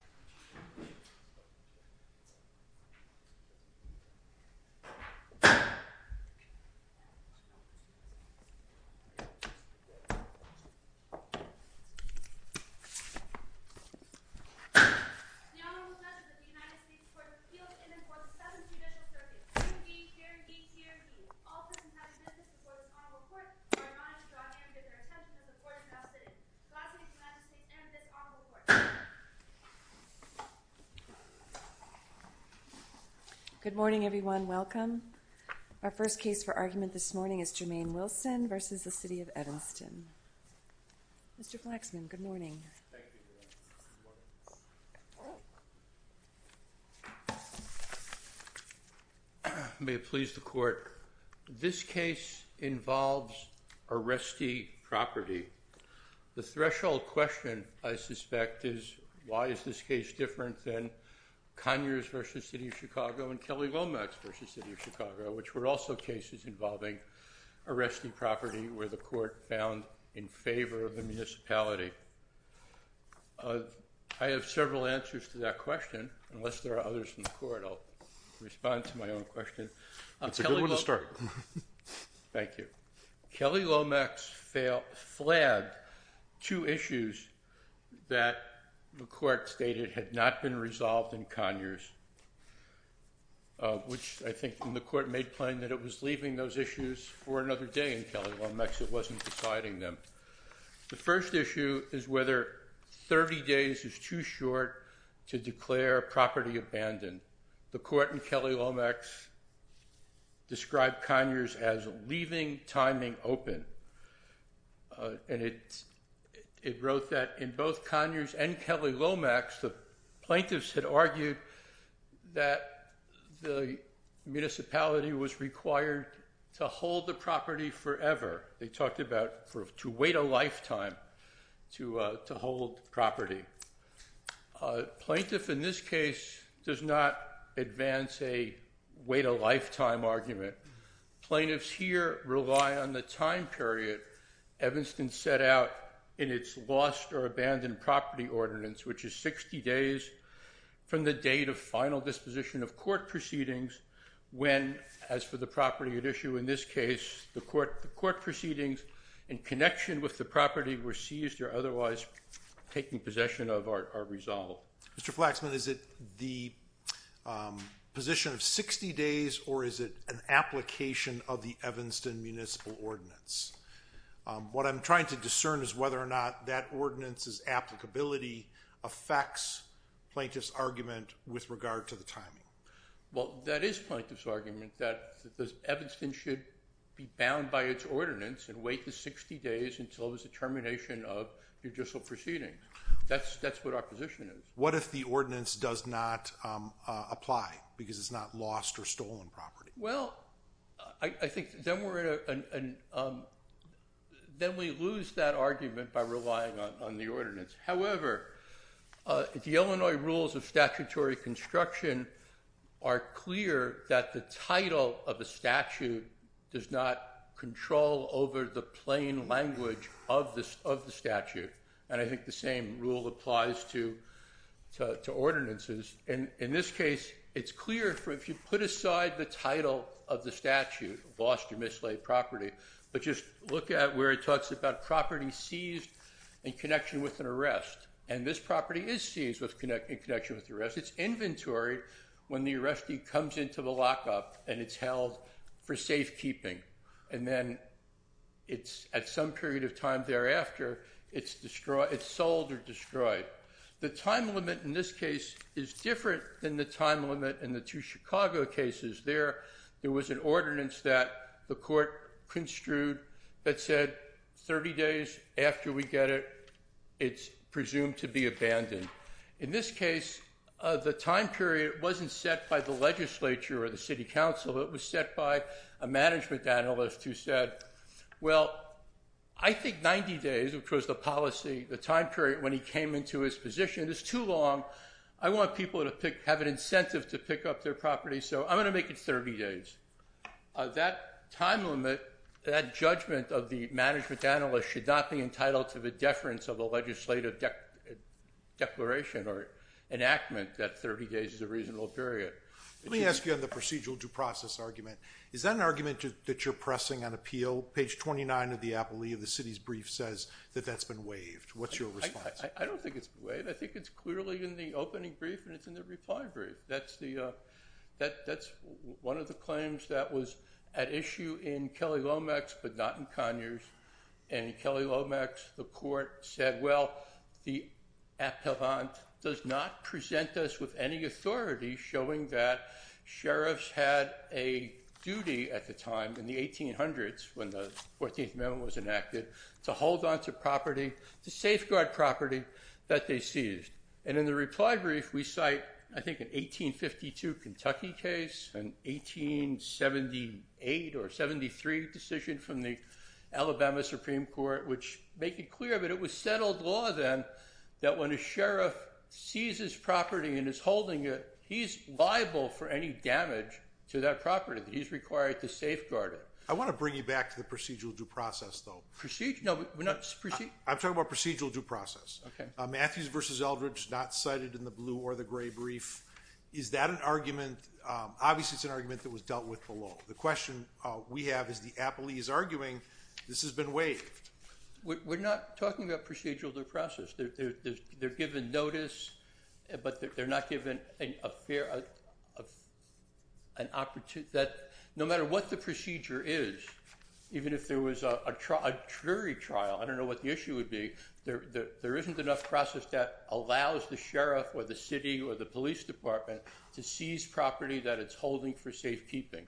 The Honorable Judge of the United States Court of Appeals in and for the 7th Judicial Circuit, hearing D, hearing E, hearing B. All present have submitted this before this Honorable Court. I remind you to draw your hand to get your attention to the Court-in-Law sitting. Good morning, everyone. Welcome. Our first case for argument this morning is Jermaine Wilson v. City of Evanston. Mr. Flaxman, good morning. May it please the Court, this case involves arrestee property. The threshold question, I suspect, is why is this case different than Conyers v. City of Chicago and Kelly Lomax v. City of Chicago, which were also cases involving arrestee property where the Court found in favor of the municipality. I have several answers to that question. Unless there are others in the Court, I'll respond to my own question. That's a good one to start. Thank you. Kelly Lomax flagged two issues that the Court stated had not been resolved in Conyers, which I think the Court made plain that it was leaving those issues for another day in Kelly Lomax. It wasn't deciding them. The first issue is whether 30 days is too short to declare property abandoned. The Court in Kelly Lomax described Conyers as leaving timing open, and it wrote that in both Conyers and Kelly Lomax, the plaintiffs had argued that the municipality was required to hold the property forever. They talked about to wait a lifetime to hold property. Plaintiff in this case does not advance a wait-a-lifetime argument. Plaintiffs here rely on the time period Evanston set out in its lost or abandoned property ordinance, which is 60 days from the date of final disposition of court proceedings when, as for the property at issue in this case, the court proceedings in connection with the property were seized or otherwise taken possession of or resolved. Mr. Flaxman, is it the position of 60 days, or is it an application of the Evanston Municipal Ordinance? What I'm trying to discern is whether or not that ordinance's applicability affects plaintiff's argument with regard to the timing. Well, that is plaintiff's argument, that Evanston should be bound by its ordinance and wait the 60 days until there's a termination of judicial proceedings. That's what our position is. What if the ordinance does not apply because it's not lost or stolen property? Well, I think then we lose that argument by relying on the ordinance. However, the Illinois rules of statutory construction are clear that the title of a statute does not control over the plain language of the statute. And I think the same rule applies to ordinances. In this case, it's clear if you put aside the title of the statute, lost or mislaid property, but just look at where it talks about property seized in connection with an arrest. And this property is seized in connection with an arrest. It's inventoried when the arrestee comes into the lockup and it's held for safekeeping. And then at some period of time thereafter, it's sold or destroyed. The time limit in this case is different than the time limit in the two Chicago cases. There was an ordinance that the court construed that said 30 days after we get it, it's presumed to be abandoned. In this case, the time period wasn't set by the legislature or the city council. It was set by a management analyst who said, well, I think 90 days, which was the policy, the time period when he came into his position is too long. I want people to have an incentive to pick up their property, so I'm going to make it 30 days. That time limit, that judgment of the management analyst should not be entitled to the deference of a legislative declaration or enactment that 30 days is a reasonable period. Let me ask you on the procedural due process argument. Is that an argument that you're pressing on appeal? Page 29 of the appellee of the city's brief says that that's been waived. What's your response? I don't think it's waived. I think it's clearly in the opening brief and it's in the reply brief. That's one of the claims that was at issue in Kelly Lomax but not in Conyers. In Kelly Lomax, the court said, well, the appellant does not present us with any authority showing that sheriffs had a duty at the time in the 1800s when the 14th Amendment was enacted to hold on to property, to safeguard property that they seized. And in the reply brief, we cite, I think, an 1852 Kentucky case, an 1878 or 1873 decision from the Alabama Supreme Court, which make it clear that it was settled law then that when a sheriff seizes property and is holding it, he's liable for any damage to that property that he's required to safeguard it. I want to bring you back to the procedural due process, though. Procedural? No, we're not. I'm talking about procedural due process. Okay. So there's a lot of language not cited in the blue or the gray brief. Is that an argument? Obviously, it's an argument that was dealt with below. The question we have is the appellee is arguing this has been waived. We're not talking about procedural due process. They're given notice, but they're not given an opportunity. No matter what the procedure is, even if there was a jury trial, I don't know what the issue would be, there isn't enough process that allows the sheriff or the city or the police department to seize property that it's holding for safekeeping,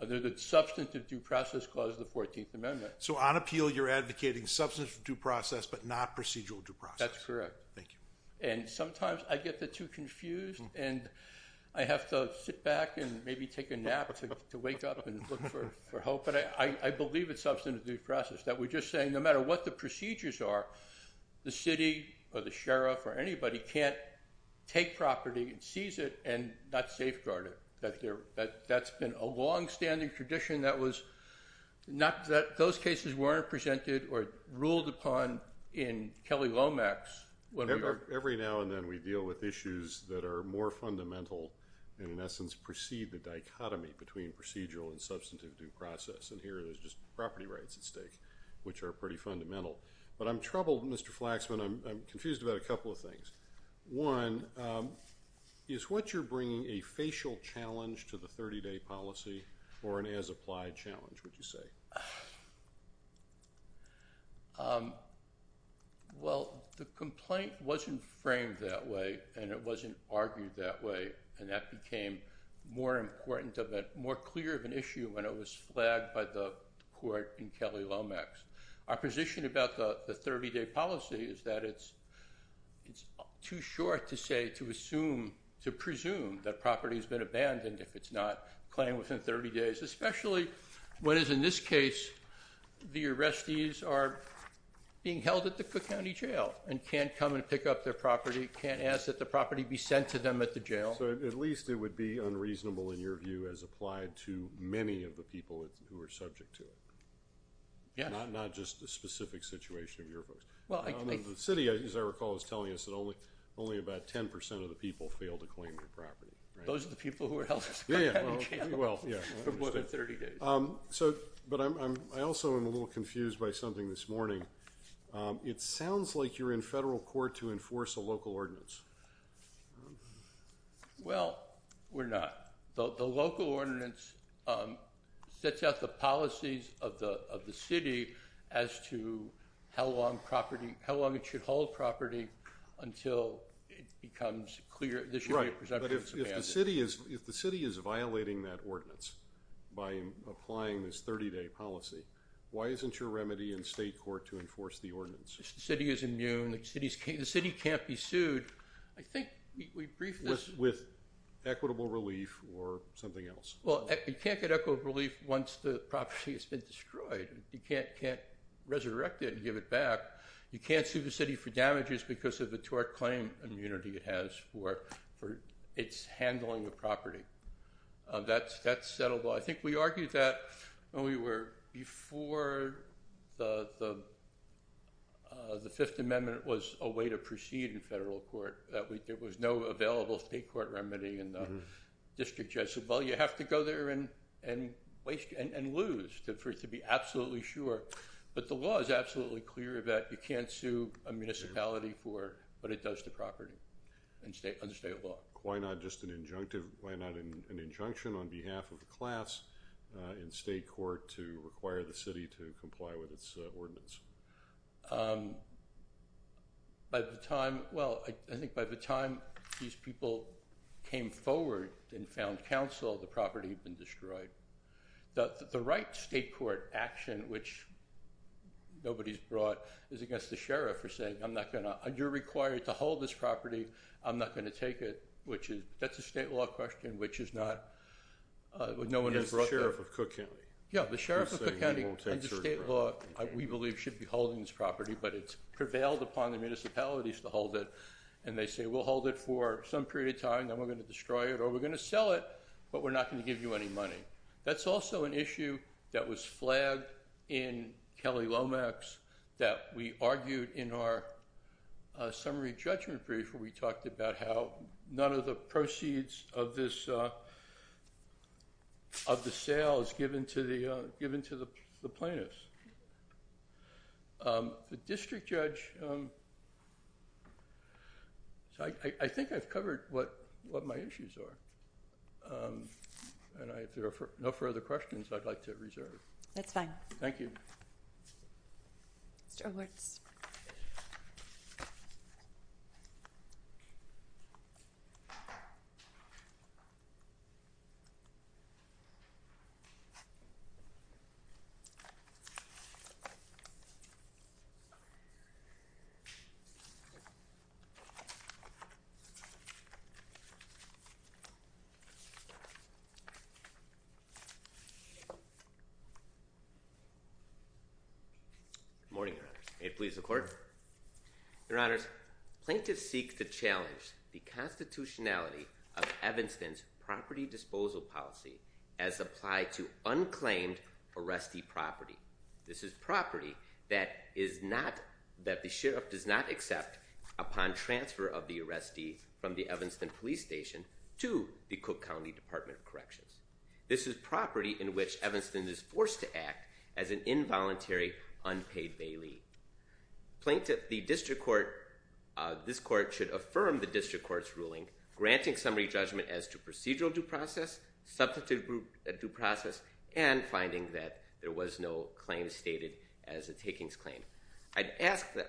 other than substantive due process clause of the 14th Amendment. So on appeal, you're advocating substantive due process, but not procedural due process. That's correct. Thank you. And sometimes I get the two confused, and I have to sit back and maybe take a nap to wake up and look for hope. But I believe it's substantive due process, that we're just saying no matter what the procedures are, the city or the sheriff or anybody can't take property and seize it and not safeguard it. That's been a longstanding tradition that those cases weren't presented or ruled upon in Kelly Lomax. Every now and then, we deal with issues that are more fundamental and, in essence, precede the dichotomy between procedural and substantive due process. And here, there's just property rights at stake, which are pretty fundamental. But I'm troubled, Mr. Flaxman. I'm confused about a couple of things. One, is what you're bringing a facial challenge to the 30-day policy or an as-applied challenge, would you say? Well, the complaint wasn't framed that way, and it wasn't argued that way. And that became more important and more clear of an issue when it was flagged by the court in Kelly Lomax. Our position about the 30-day policy is that it's too short to say, to assume, to presume that property has been abandoned if it's not claimed within 30 days. Especially when, as in this case, the arrestees are being held at the Cook County Jail and can't come and pick up their property, can't ask that the property be sent to them at the jail. So, at least it would be unreasonable, in your view, as applied to many of the people who are subject to it. Yes. Not just the specific situation of your folks. The city, as I recall, is telling us that only about 10% of the people fail to claim their property. Those are the people who were held at the Cook County Jail for more than 30 days. But I also am a little confused by something this morning. It sounds like you're in federal court to enforce a local ordinance. Well, we're not. The local ordinance sets out the policies of the city as to how long it should hold property until it becomes clear that there should be a presumption that it's abandoned. Right, but if the city is violating that ordinance by applying this 30-day policy, why isn't your remedy in state court to enforce the ordinance? The city is immune. The city can't be sued. With equitable relief or something else? Well, you can't get equitable relief once the property has been destroyed. You can't resurrect it and give it back. You can't sue the city for damages because of the tort claim immunity it has for its handling of property. That's settled. I think we argued that before the Fifth Amendment was a way to proceed in federal court, there was no available state court remedy. And the district judge said, well, you have to go there and lose to be absolutely sure. But the law is absolutely clear that you can't sue a municipality for what it does to property under state law. Why not just an injunctive, why not an injunction on behalf of the class in state court to require the city to comply with its ordinance? By the time, well, I think by the time these people came forward and found counsel, the property had been destroyed. The right state court action, which nobody's brought, is against the sheriff for saying, I'm not going to, you're required to hold this property, I'm not going to take it. That's a state law question, which is not, no one has brought that. It's the sheriff of Cook County. Yeah, the sheriff of Cook County, under state law, we believe should be holding this property, but it's prevailed upon the municipalities to hold it. And they say, we'll hold it for some period of time, then we're going to destroy it or we're going to sell it, but we're not going to give you any money. That's also an issue that was flagged in Kelly Lomax that we argued in our summary judgment brief where we talked about how none of the proceeds of this, of the sale is given to the, given to the plaintiffs. The district judge, I think I've covered what my issues are. And if there are no further questions, I'd like to reserve. That's fine. Thank you. Mr. Horwitz. Good morning. May it please the court. Your honors, plaintiffs seek to challenge the constitutionality of Evanston's property disposal policy as applied to unclaimed arrestee property. This is property that is not, that the sheriff does not accept upon transfer of the arrestee from the Evanston police station to the Cook County Department of Corrections. This is property in which Evanston is forced to act as an involuntary unpaid bailey. Plaintiff, the district court, this court should affirm the district court's ruling granting summary judgment as to procedural due process, substantive due process, and finding that there was no claim stated as a takings claim. I'd ask that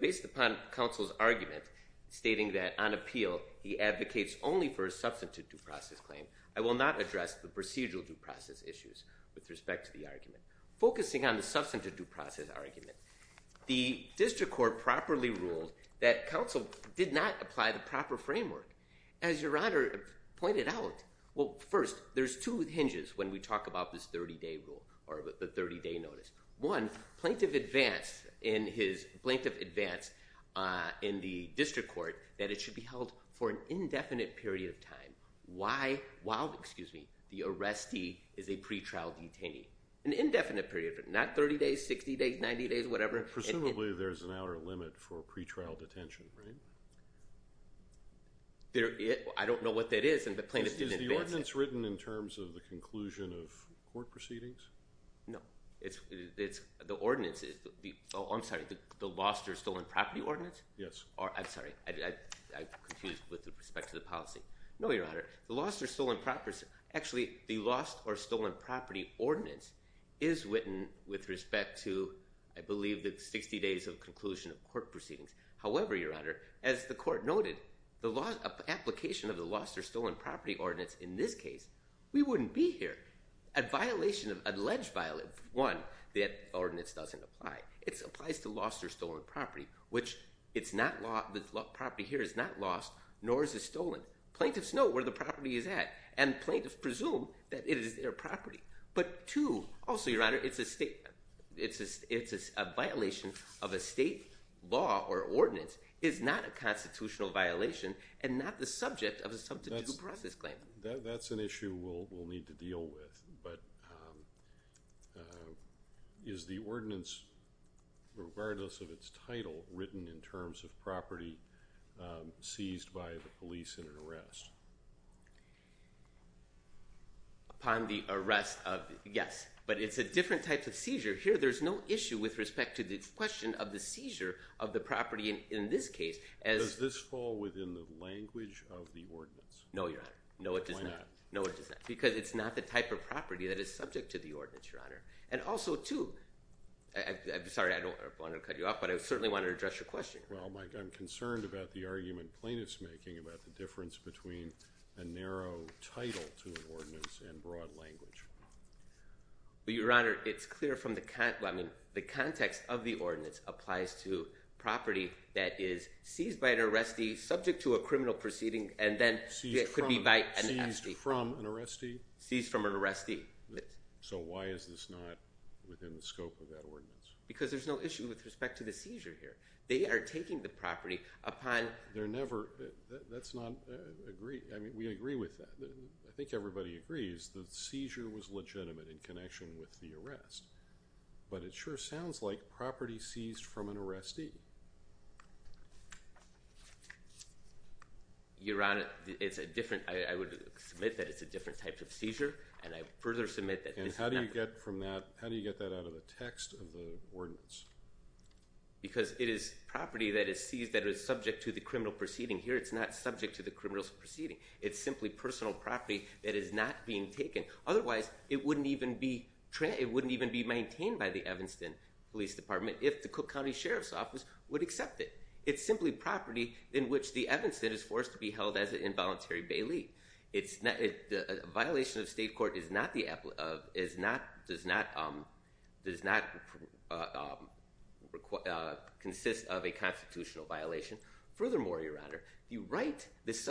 based upon counsel's argument stating that on appeal he advocates only for a substantive due process claim, I will not address the procedural due process issues with respect to the argument. Focusing on the substantive due process argument, the district court properly ruled that counsel did not apply the proper framework. As your honor pointed out, well, first, there's two hinges when we talk about this 30-day rule or the 30-day notice. One, plaintiff advanced in his, plaintiff advanced in the district court that it should be held for an indefinite period of time. Why, while, excuse me, the arrestee is a pretrial detainee. An indefinite period, but not 30 days, 60 days, 90 days, whatever. Presumably there's an outer limit for pretrial detention, right? I don't know what that is and the plaintiff didn't advance it. Is the ordinance written in terms of the conclusion of court proceedings? No. The ordinance is, I'm sorry, the lost or stolen property ordinance? Yes. I'm sorry. I confused with respect to the policy. No, your honor. The lost or stolen property, actually, the lost or stolen property ordinance is written with respect to, I believe, the 60 days of conclusion of court proceedings. However, your honor, as the court noted, the application of the lost or stolen property ordinance in this case, we wouldn't be here. A violation, an alleged violation, one, the ordinance doesn't apply. It applies to lost or stolen property, which the property here is not lost nor is it stolen. Plaintiffs know where the property is at and plaintiffs presume that it is their property. But two, also, your honor, it's a violation of a state law or ordinance. It's not a constitutional violation and not the subject of a substitute process claim. That's an issue we'll need to deal with. But is the ordinance, regardless of its title, written in terms of property seized by the police in an arrest? Upon the arrest of, yes. But it's a different type of seizure. Here, there's no issue with respect to the question of the seizure of the property in this case. Does this fall within the language of the ordinance? No, your honor. No, it does not. Why not? No, it does not. Because it's not the type of property that is subject to the ordinance, your honor. And also, too, I'm sorry, I don't want to cut you off, but I certainly want to address your question. Well, Mike, I'm concerned about the argument plaintiffs are making about the difference between a narrow title to an ordinance and broad language. Your honor, it's clear from the context of the ordinance applies to property that is seized by an arrestee, subject to a criminal proceeding, and then could be by an FD. Seized from an arrestee? Seized from an arrestee. So why is this not within the scope of that ordinance? Because there's no issue with respect to the seizure here. They are taking the property upon That's not agreed. I mean, we agree with that. I think everybody agrees the seizure was legitimate in connection with the arrest. But it sure sounds like property seized from an arrestee. Your honor, it's a different, I would submit that it's a different type of seizure. And I further submit that. And how do you get from that? How do you get that out of the text of the ordinance? Because it is property that is seized that is subject to the criminal proceeding. Here, it's not subject to the criminal proceeding. It's simply personal property that is not being taken. Otherwise, it wouldn't even be maintained by the Evanston Police Department if the Cook County Sheriff's Office would accept it. It's simply property in which the Evanston is forced to be held as an involuntary bailee. A violation of state court does not consist of a constitutional violation. Furthermore, your honor, the right, this is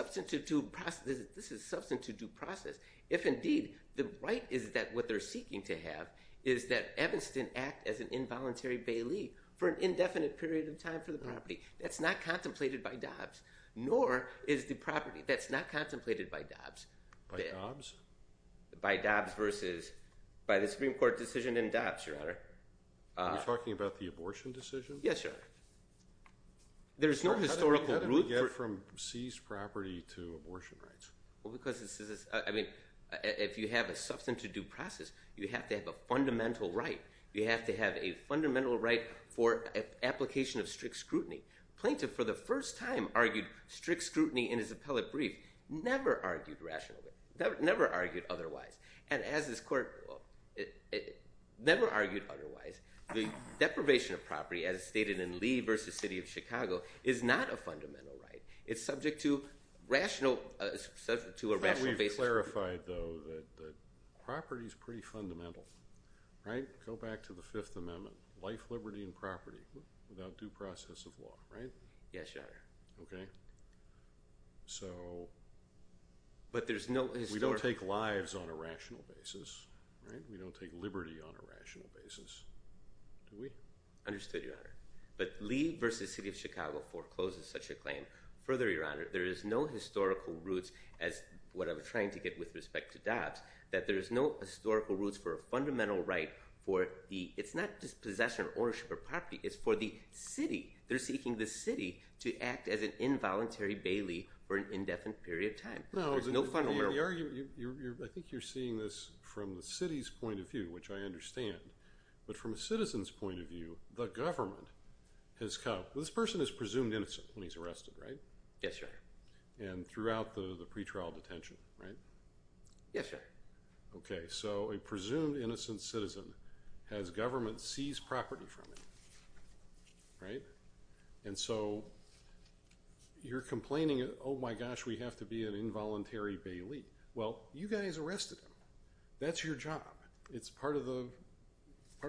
substantive due process. If indeed, the right is that what they're seeking to have is that Evanston act as an involuntary bailee for an indefinite period of time for the property. That's not contemplated by Dobbs. Nor is the property that's not contemplated by Dobbs. By Dobbs? By Dobbs versus, by the Supreme Court decision in Dobbs, your honor. Are you talking about the abortion decision? Yes, your honor. There's no historical root. How did we get from seized property to abortion rights? Well, because this is, I mean, if you have a substantive due process, you have to have a fundamental right. You have to have a fundamental right for application of strict scrutiny. Plaintiff, for the first time, argued strict scrutiny in his appellate brief. Never argued rationally. Never argued otherwise. And as this court never argued otherwise, the deprivation of property as stated in Lee v. City of Chicago is not a fundamental right. It's subject to rational, to a rational basis. I thought we clarified, though, that property is pretty fundamental. Right? Go back to the Fifth Amendment. Life, liberty, and property without due process of law. Right? Yes, your honor. Okay. So. But there's no. We don't take lives on a rational basis. Right? We don't take liberty on a rational basis. Do we? Understood, your honor. But Lee v. City of Chicago forecloses such a claim. Further, your honor, there is no historical roots, as what I was trying to get with respect to Dobbs, that there is no historical roots for a fundamental right for the... It's not just possession, ownership, or property. It's for the city. They're seeking the city to act as an involuntary bailee for an indefinite period of time. No. I think you're seeing this from the city's point of view, which I understand. But from a citizen's point of view, the government has... Well, this person is presumed innocent when he's arrested, right? Yes, your honor. And throughout the pretrial detention, right? Yes, your honor. Okay. So a presumed innocent citizen has government seize property from him. Right? And so you're complaining, oh, my gosh, we have to be an involuntary bailee. Well, you guys arrested him. That's your job. It's part of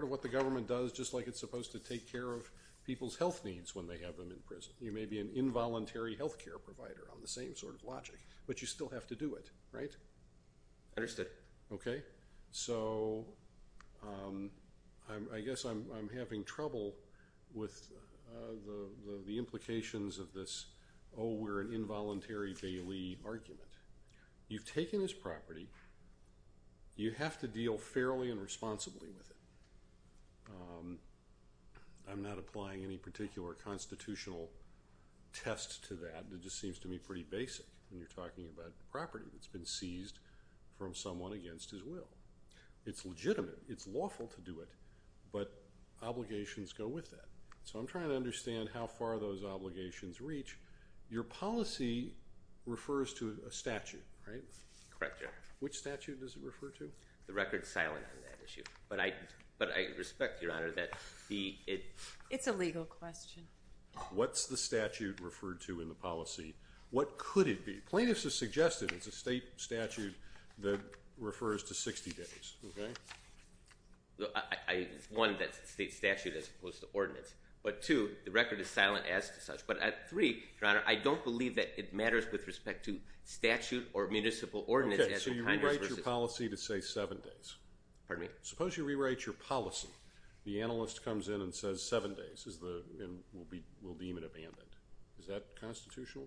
what the government does, just like it's supposed to take care of people's health needs when they have them in prison. You may be an involuntary health care provider on the same sort of logic, but you still have to do it, right? Understood. Okay. So I guess I'm having trouble with the implications of this, oh, we're an involuntary bailee argument. You've taken his property. You have to deal fairly and responsibly with it. I'm not applying any particular constitutional test to that. It just seems to me pretty basic when you're talking about property that's been seized from someone against his will. It's legitimate. It's lawful to do it, but obligations go with that. So I'm trying to understand how far those obligations reach. Your policy refers to a statute, right? Correct, your honor. Which statute does it refer to? The record's silent on that issue, but I respect, your honor, that it's a legal question. What's the statute referred to in the policy? What could it be? Plaintiffs have suggested it's a state statute that refers to 60 days, okay? One, that's a state statute as opposed to ordinance. But two, the record is silent as to such. But three, your honor, I don't believe that it matters with respect to statute or municipal ordinance. Okay, so you rewrite your policy to say seven days. Pardon me? Okay, suppose you rewrite your policy. The analyst comes in and says seven days, and we'll deem it abandoned. Is that constitutional?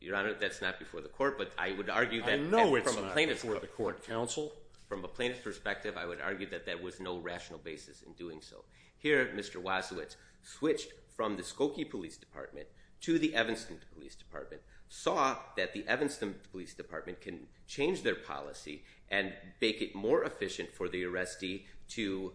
Your honor, that's not before the court, but I would argue that from a plaintiff's perspective. I know it's not before the court, counsel. From a plaintiff's perspective, I would argue that that was no rational basis in doing so. Here, Mr. Wasowitz switched from the Skokie Police Department to the Evanston Police Department, saw that the Evanston Police Department can change their policy and make it more efficient for the arrestee to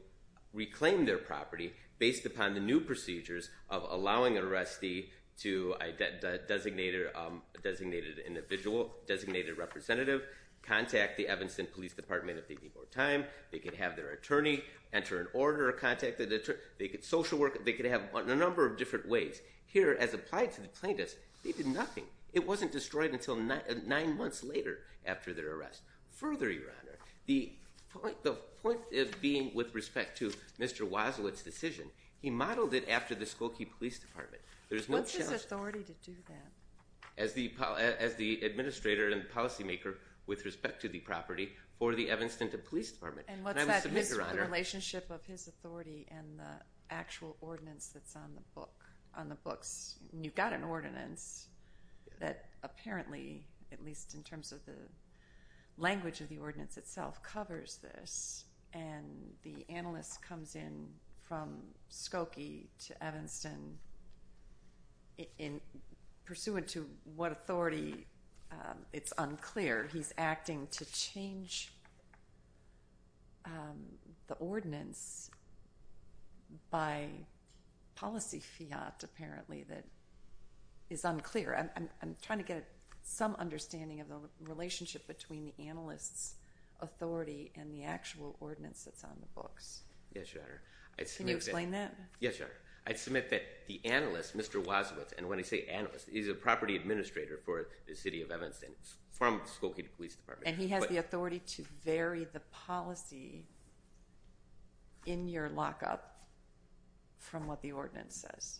reclaim their property based upon the new procedures of allowing an arrestee to, a designated individual, designated representative, contact the Evanston Police Department if they need more time. They can have their attorney enter an order or contact their attorney. They could social work. They could have a number of different ways. Here, as applied to the plaintiffs, they did nothing. It wasn't destroyed until nine months later after their arrest. Further, your honor, the point of being with respect to Mr. Wasowitz's decision, he modeled it after the Skokie Police Department. What's his authority to do that? As the administrator and policymaker with respect to the property for the Evanston Police Department. What's the relationship of his authority and the actual ordinance that's on the books? You've got an ordinance that apparently, at least in terms of the language of the ordinance itself, covers this, and the analyst comes in from Skokie to Evanston. Pursuant to what authority, it's unclear. He's acting to change the ordinance by policy fiat apparently that is unclear. I'm trying to get some understanding of the relationship between the analyst's authority and the actual ordinance that's on the books. Yes, your honor. Can you explain that? Yes, your honor. I submit that the analyst, Mr. Wasowitz, and when I say analyst, he's a property administrator for the city of Evanston from Skokie Police Department. And he has the authority to vary the policy in your lockup from what the ordinance says?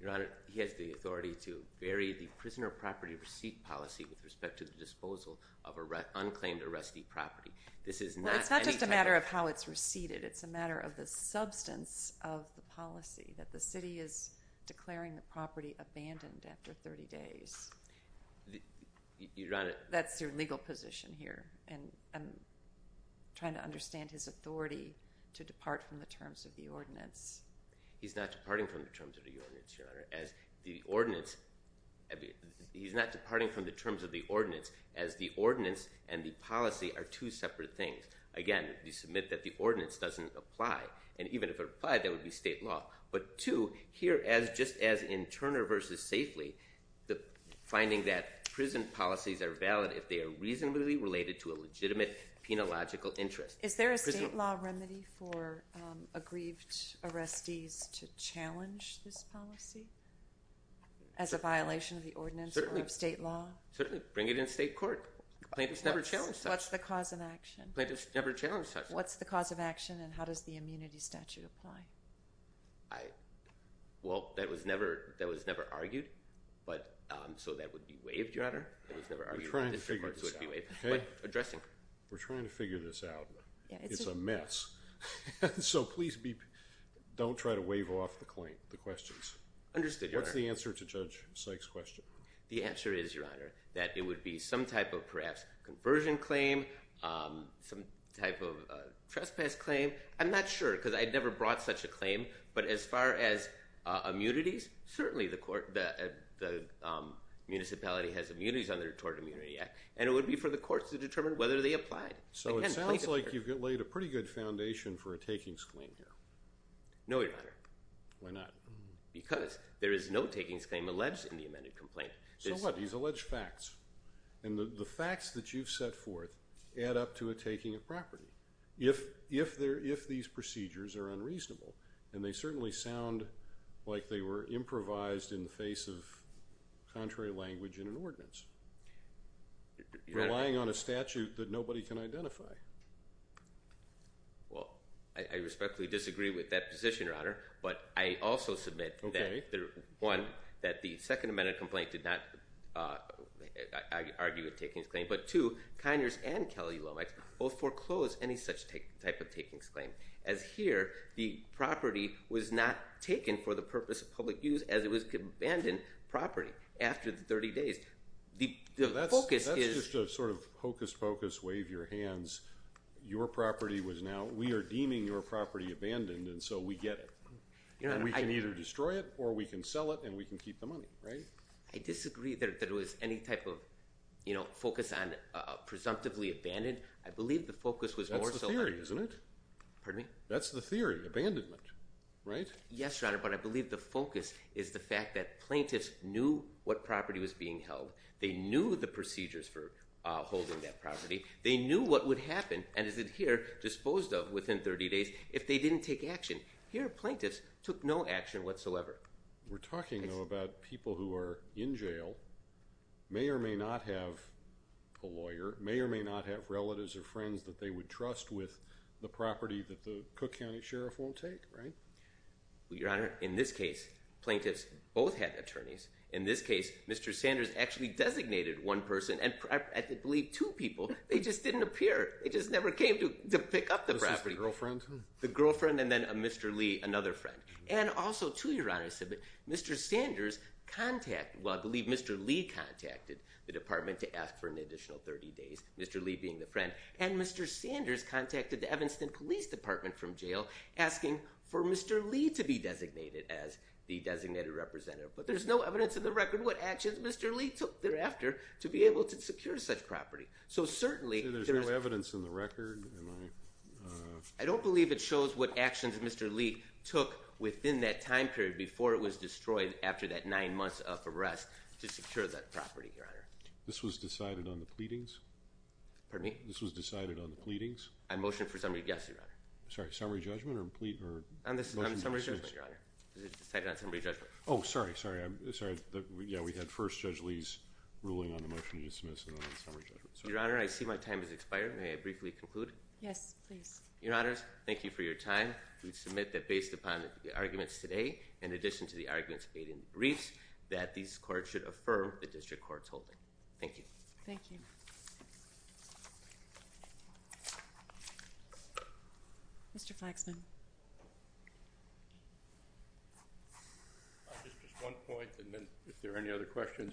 Your honor, he has the authority to vary the prisoner property receipt policy with respect to the disposal of unclaimed arrestee property. It's not just a matter of how it's receipted. It's a matter of the substance of the policy, that the city is declaring the property abandoned after 30 days. That's your legal position here, and I'm trying to understand his authority to depart from the terms of the ordinance. He's not departing from the terms of the ordinance, your honor. He's not departing from the terms of the ordinance, as the ordinance and the policy are two separate things. Again, you submit that the ordinance doesn't apply, and even if it applied, that would be state law. But two, here, just as in Turner v. Safely, the finding that prison policies are valid if they are reasonably related to a legitimate penological interest. Is there a state law remedy for aggrieved arrestees to challenge this policy as a violation of the ordinance or of state law? Certainly. Bring it in state court. Plaintiffs never challenge that. What's the cause of action? Plaintiffs never challenge that. What's the cause of action, and how does the immunity statute apply? Well, that was never argued, so that would be waived, your honor. We're trying to figure this out. But addressing. We're trying to figure this out. It's a mess. So please don't try to waive off the claim, the questions. Understood, your honor. What's the answer to Judge Sykes' question? The answer is, your honor, that it would be some type of perhaps conversion claim, some type of trespass claim. I'm not sure because I'd never brought such a claim, but as far as immunities, certainly the municipality has immunities under the Tort Immunity Act, and it would be for the courts to determine whether they applied. So it sounds like you've laid a pretty good foundation for a takings claim here. No, your honor. Why not? Because there is no takings claim alleged in the amended complaint. So what? These alleged facts. And the facts that you've set forth add up to a taking of property. If these procedures are unreasonable, and they certainly sound like they were improvised in the face of contrary language in an ordinance, relying on a statute that nobody can identify. Well, I respectfully disagree with that position, your honor, but I also submit that, one, that the second amended complaint did not argue a takings claim, but two, Kiners and Kelly Lomax both foreclosed any such type of takings claim, as here the property was not taken for the purpose of public use as it was an abandoned property after the 30 days. That's just a sort of hocus-pocus, wave your hands. Your property was now, we are deeming your property abandoned, and so we get it. And we can either destroy it or we can sell it and we can keep the money, right? I disagree that it was any type of focus on presumptively abandoned. I believe the focus was more so. That's the theory, isn't it? Pardon me? That's the theory, abandonment, right? Yes, your honor, but I believe the focus is the fact that plaintiffs knew what property was being held. They knew the procedures for holding that property. They knew what would happen, and as it's here, disposed of within 30 days, if they didn't take action. Here, plaintiffs took no action whatsoever. We're talking, though, about people who are in jail, may or may not have a lawyer, may or may not have relatives or friends that they would trust with the property that the Cook County Sheriff won't take, right? Your honor, in this case, plaintiffs both had attorneys. In this case, Mr. Sanders actually designated one person, and I believe two people, they just didn't appear. They just never came to pick up the property. Was this the girlfriend? The girlfriend and then Mr. Lee, another friend. And also, too, your honor, Mr. Sanders contacted, well, I believe Mr. Lee contacted the department to ask for an additional 30 days, Mr. Lee being the friend, and Mr. Sanders contacted the Evanston Police Department from jail asking for Mr. Lee to be designated as the designated representative. But there's no evidence in the record what actions Mr. Lee took thereafter to be able to secure such property. So certainly, there is no evidence in the record. I don't believe it shows what actions Mr. Lee took within that time period before it was destroyed after that nine months of arrest to secure that property, your honor. This was decided on the pleadings? Pardon me? This was decided on the pleadings? I motion for summary, yes, your honor. Sorry, summary judgment or plea? On summary judgment, your honor. It was decided on summary judgment. Oh, sorry, sorry. Yeah, we had first Judge Lee's ruling on the motion to dismiss and then on summary judgment. Your honor, I see my time has expired. May I briefly conclude? Yes, please. Your honors, thank you for your time. We submit that based upon the arguments today, in addition to the arguments made in the briefs, that these courts should affirm the district court's holding. Thank you. Thank you. Mr. Flaxman. Just one point, and then if there are any other questions.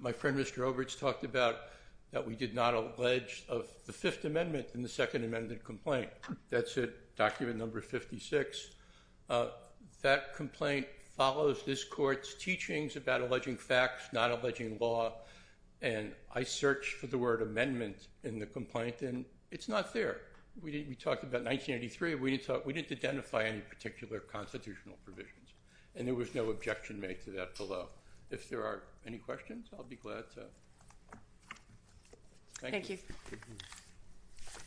My friend, Mr. Obritz, talked about that we did not allege of the Fifth Amendment in the Second Amendment complaint. That's it, document number 56. That complaint follows this court's teachings about alleging facts, not alleging law, and I searched for the word amendment in the complaint, and it's not there. We talked about 1983. We didn't identify any particular constitutional provisions, and there was no objection made to that below. If there are any questions, I'll be glad to. Thank you. Thank you.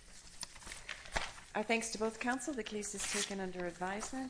Our thanks to both counsel. The case is taken under advisement.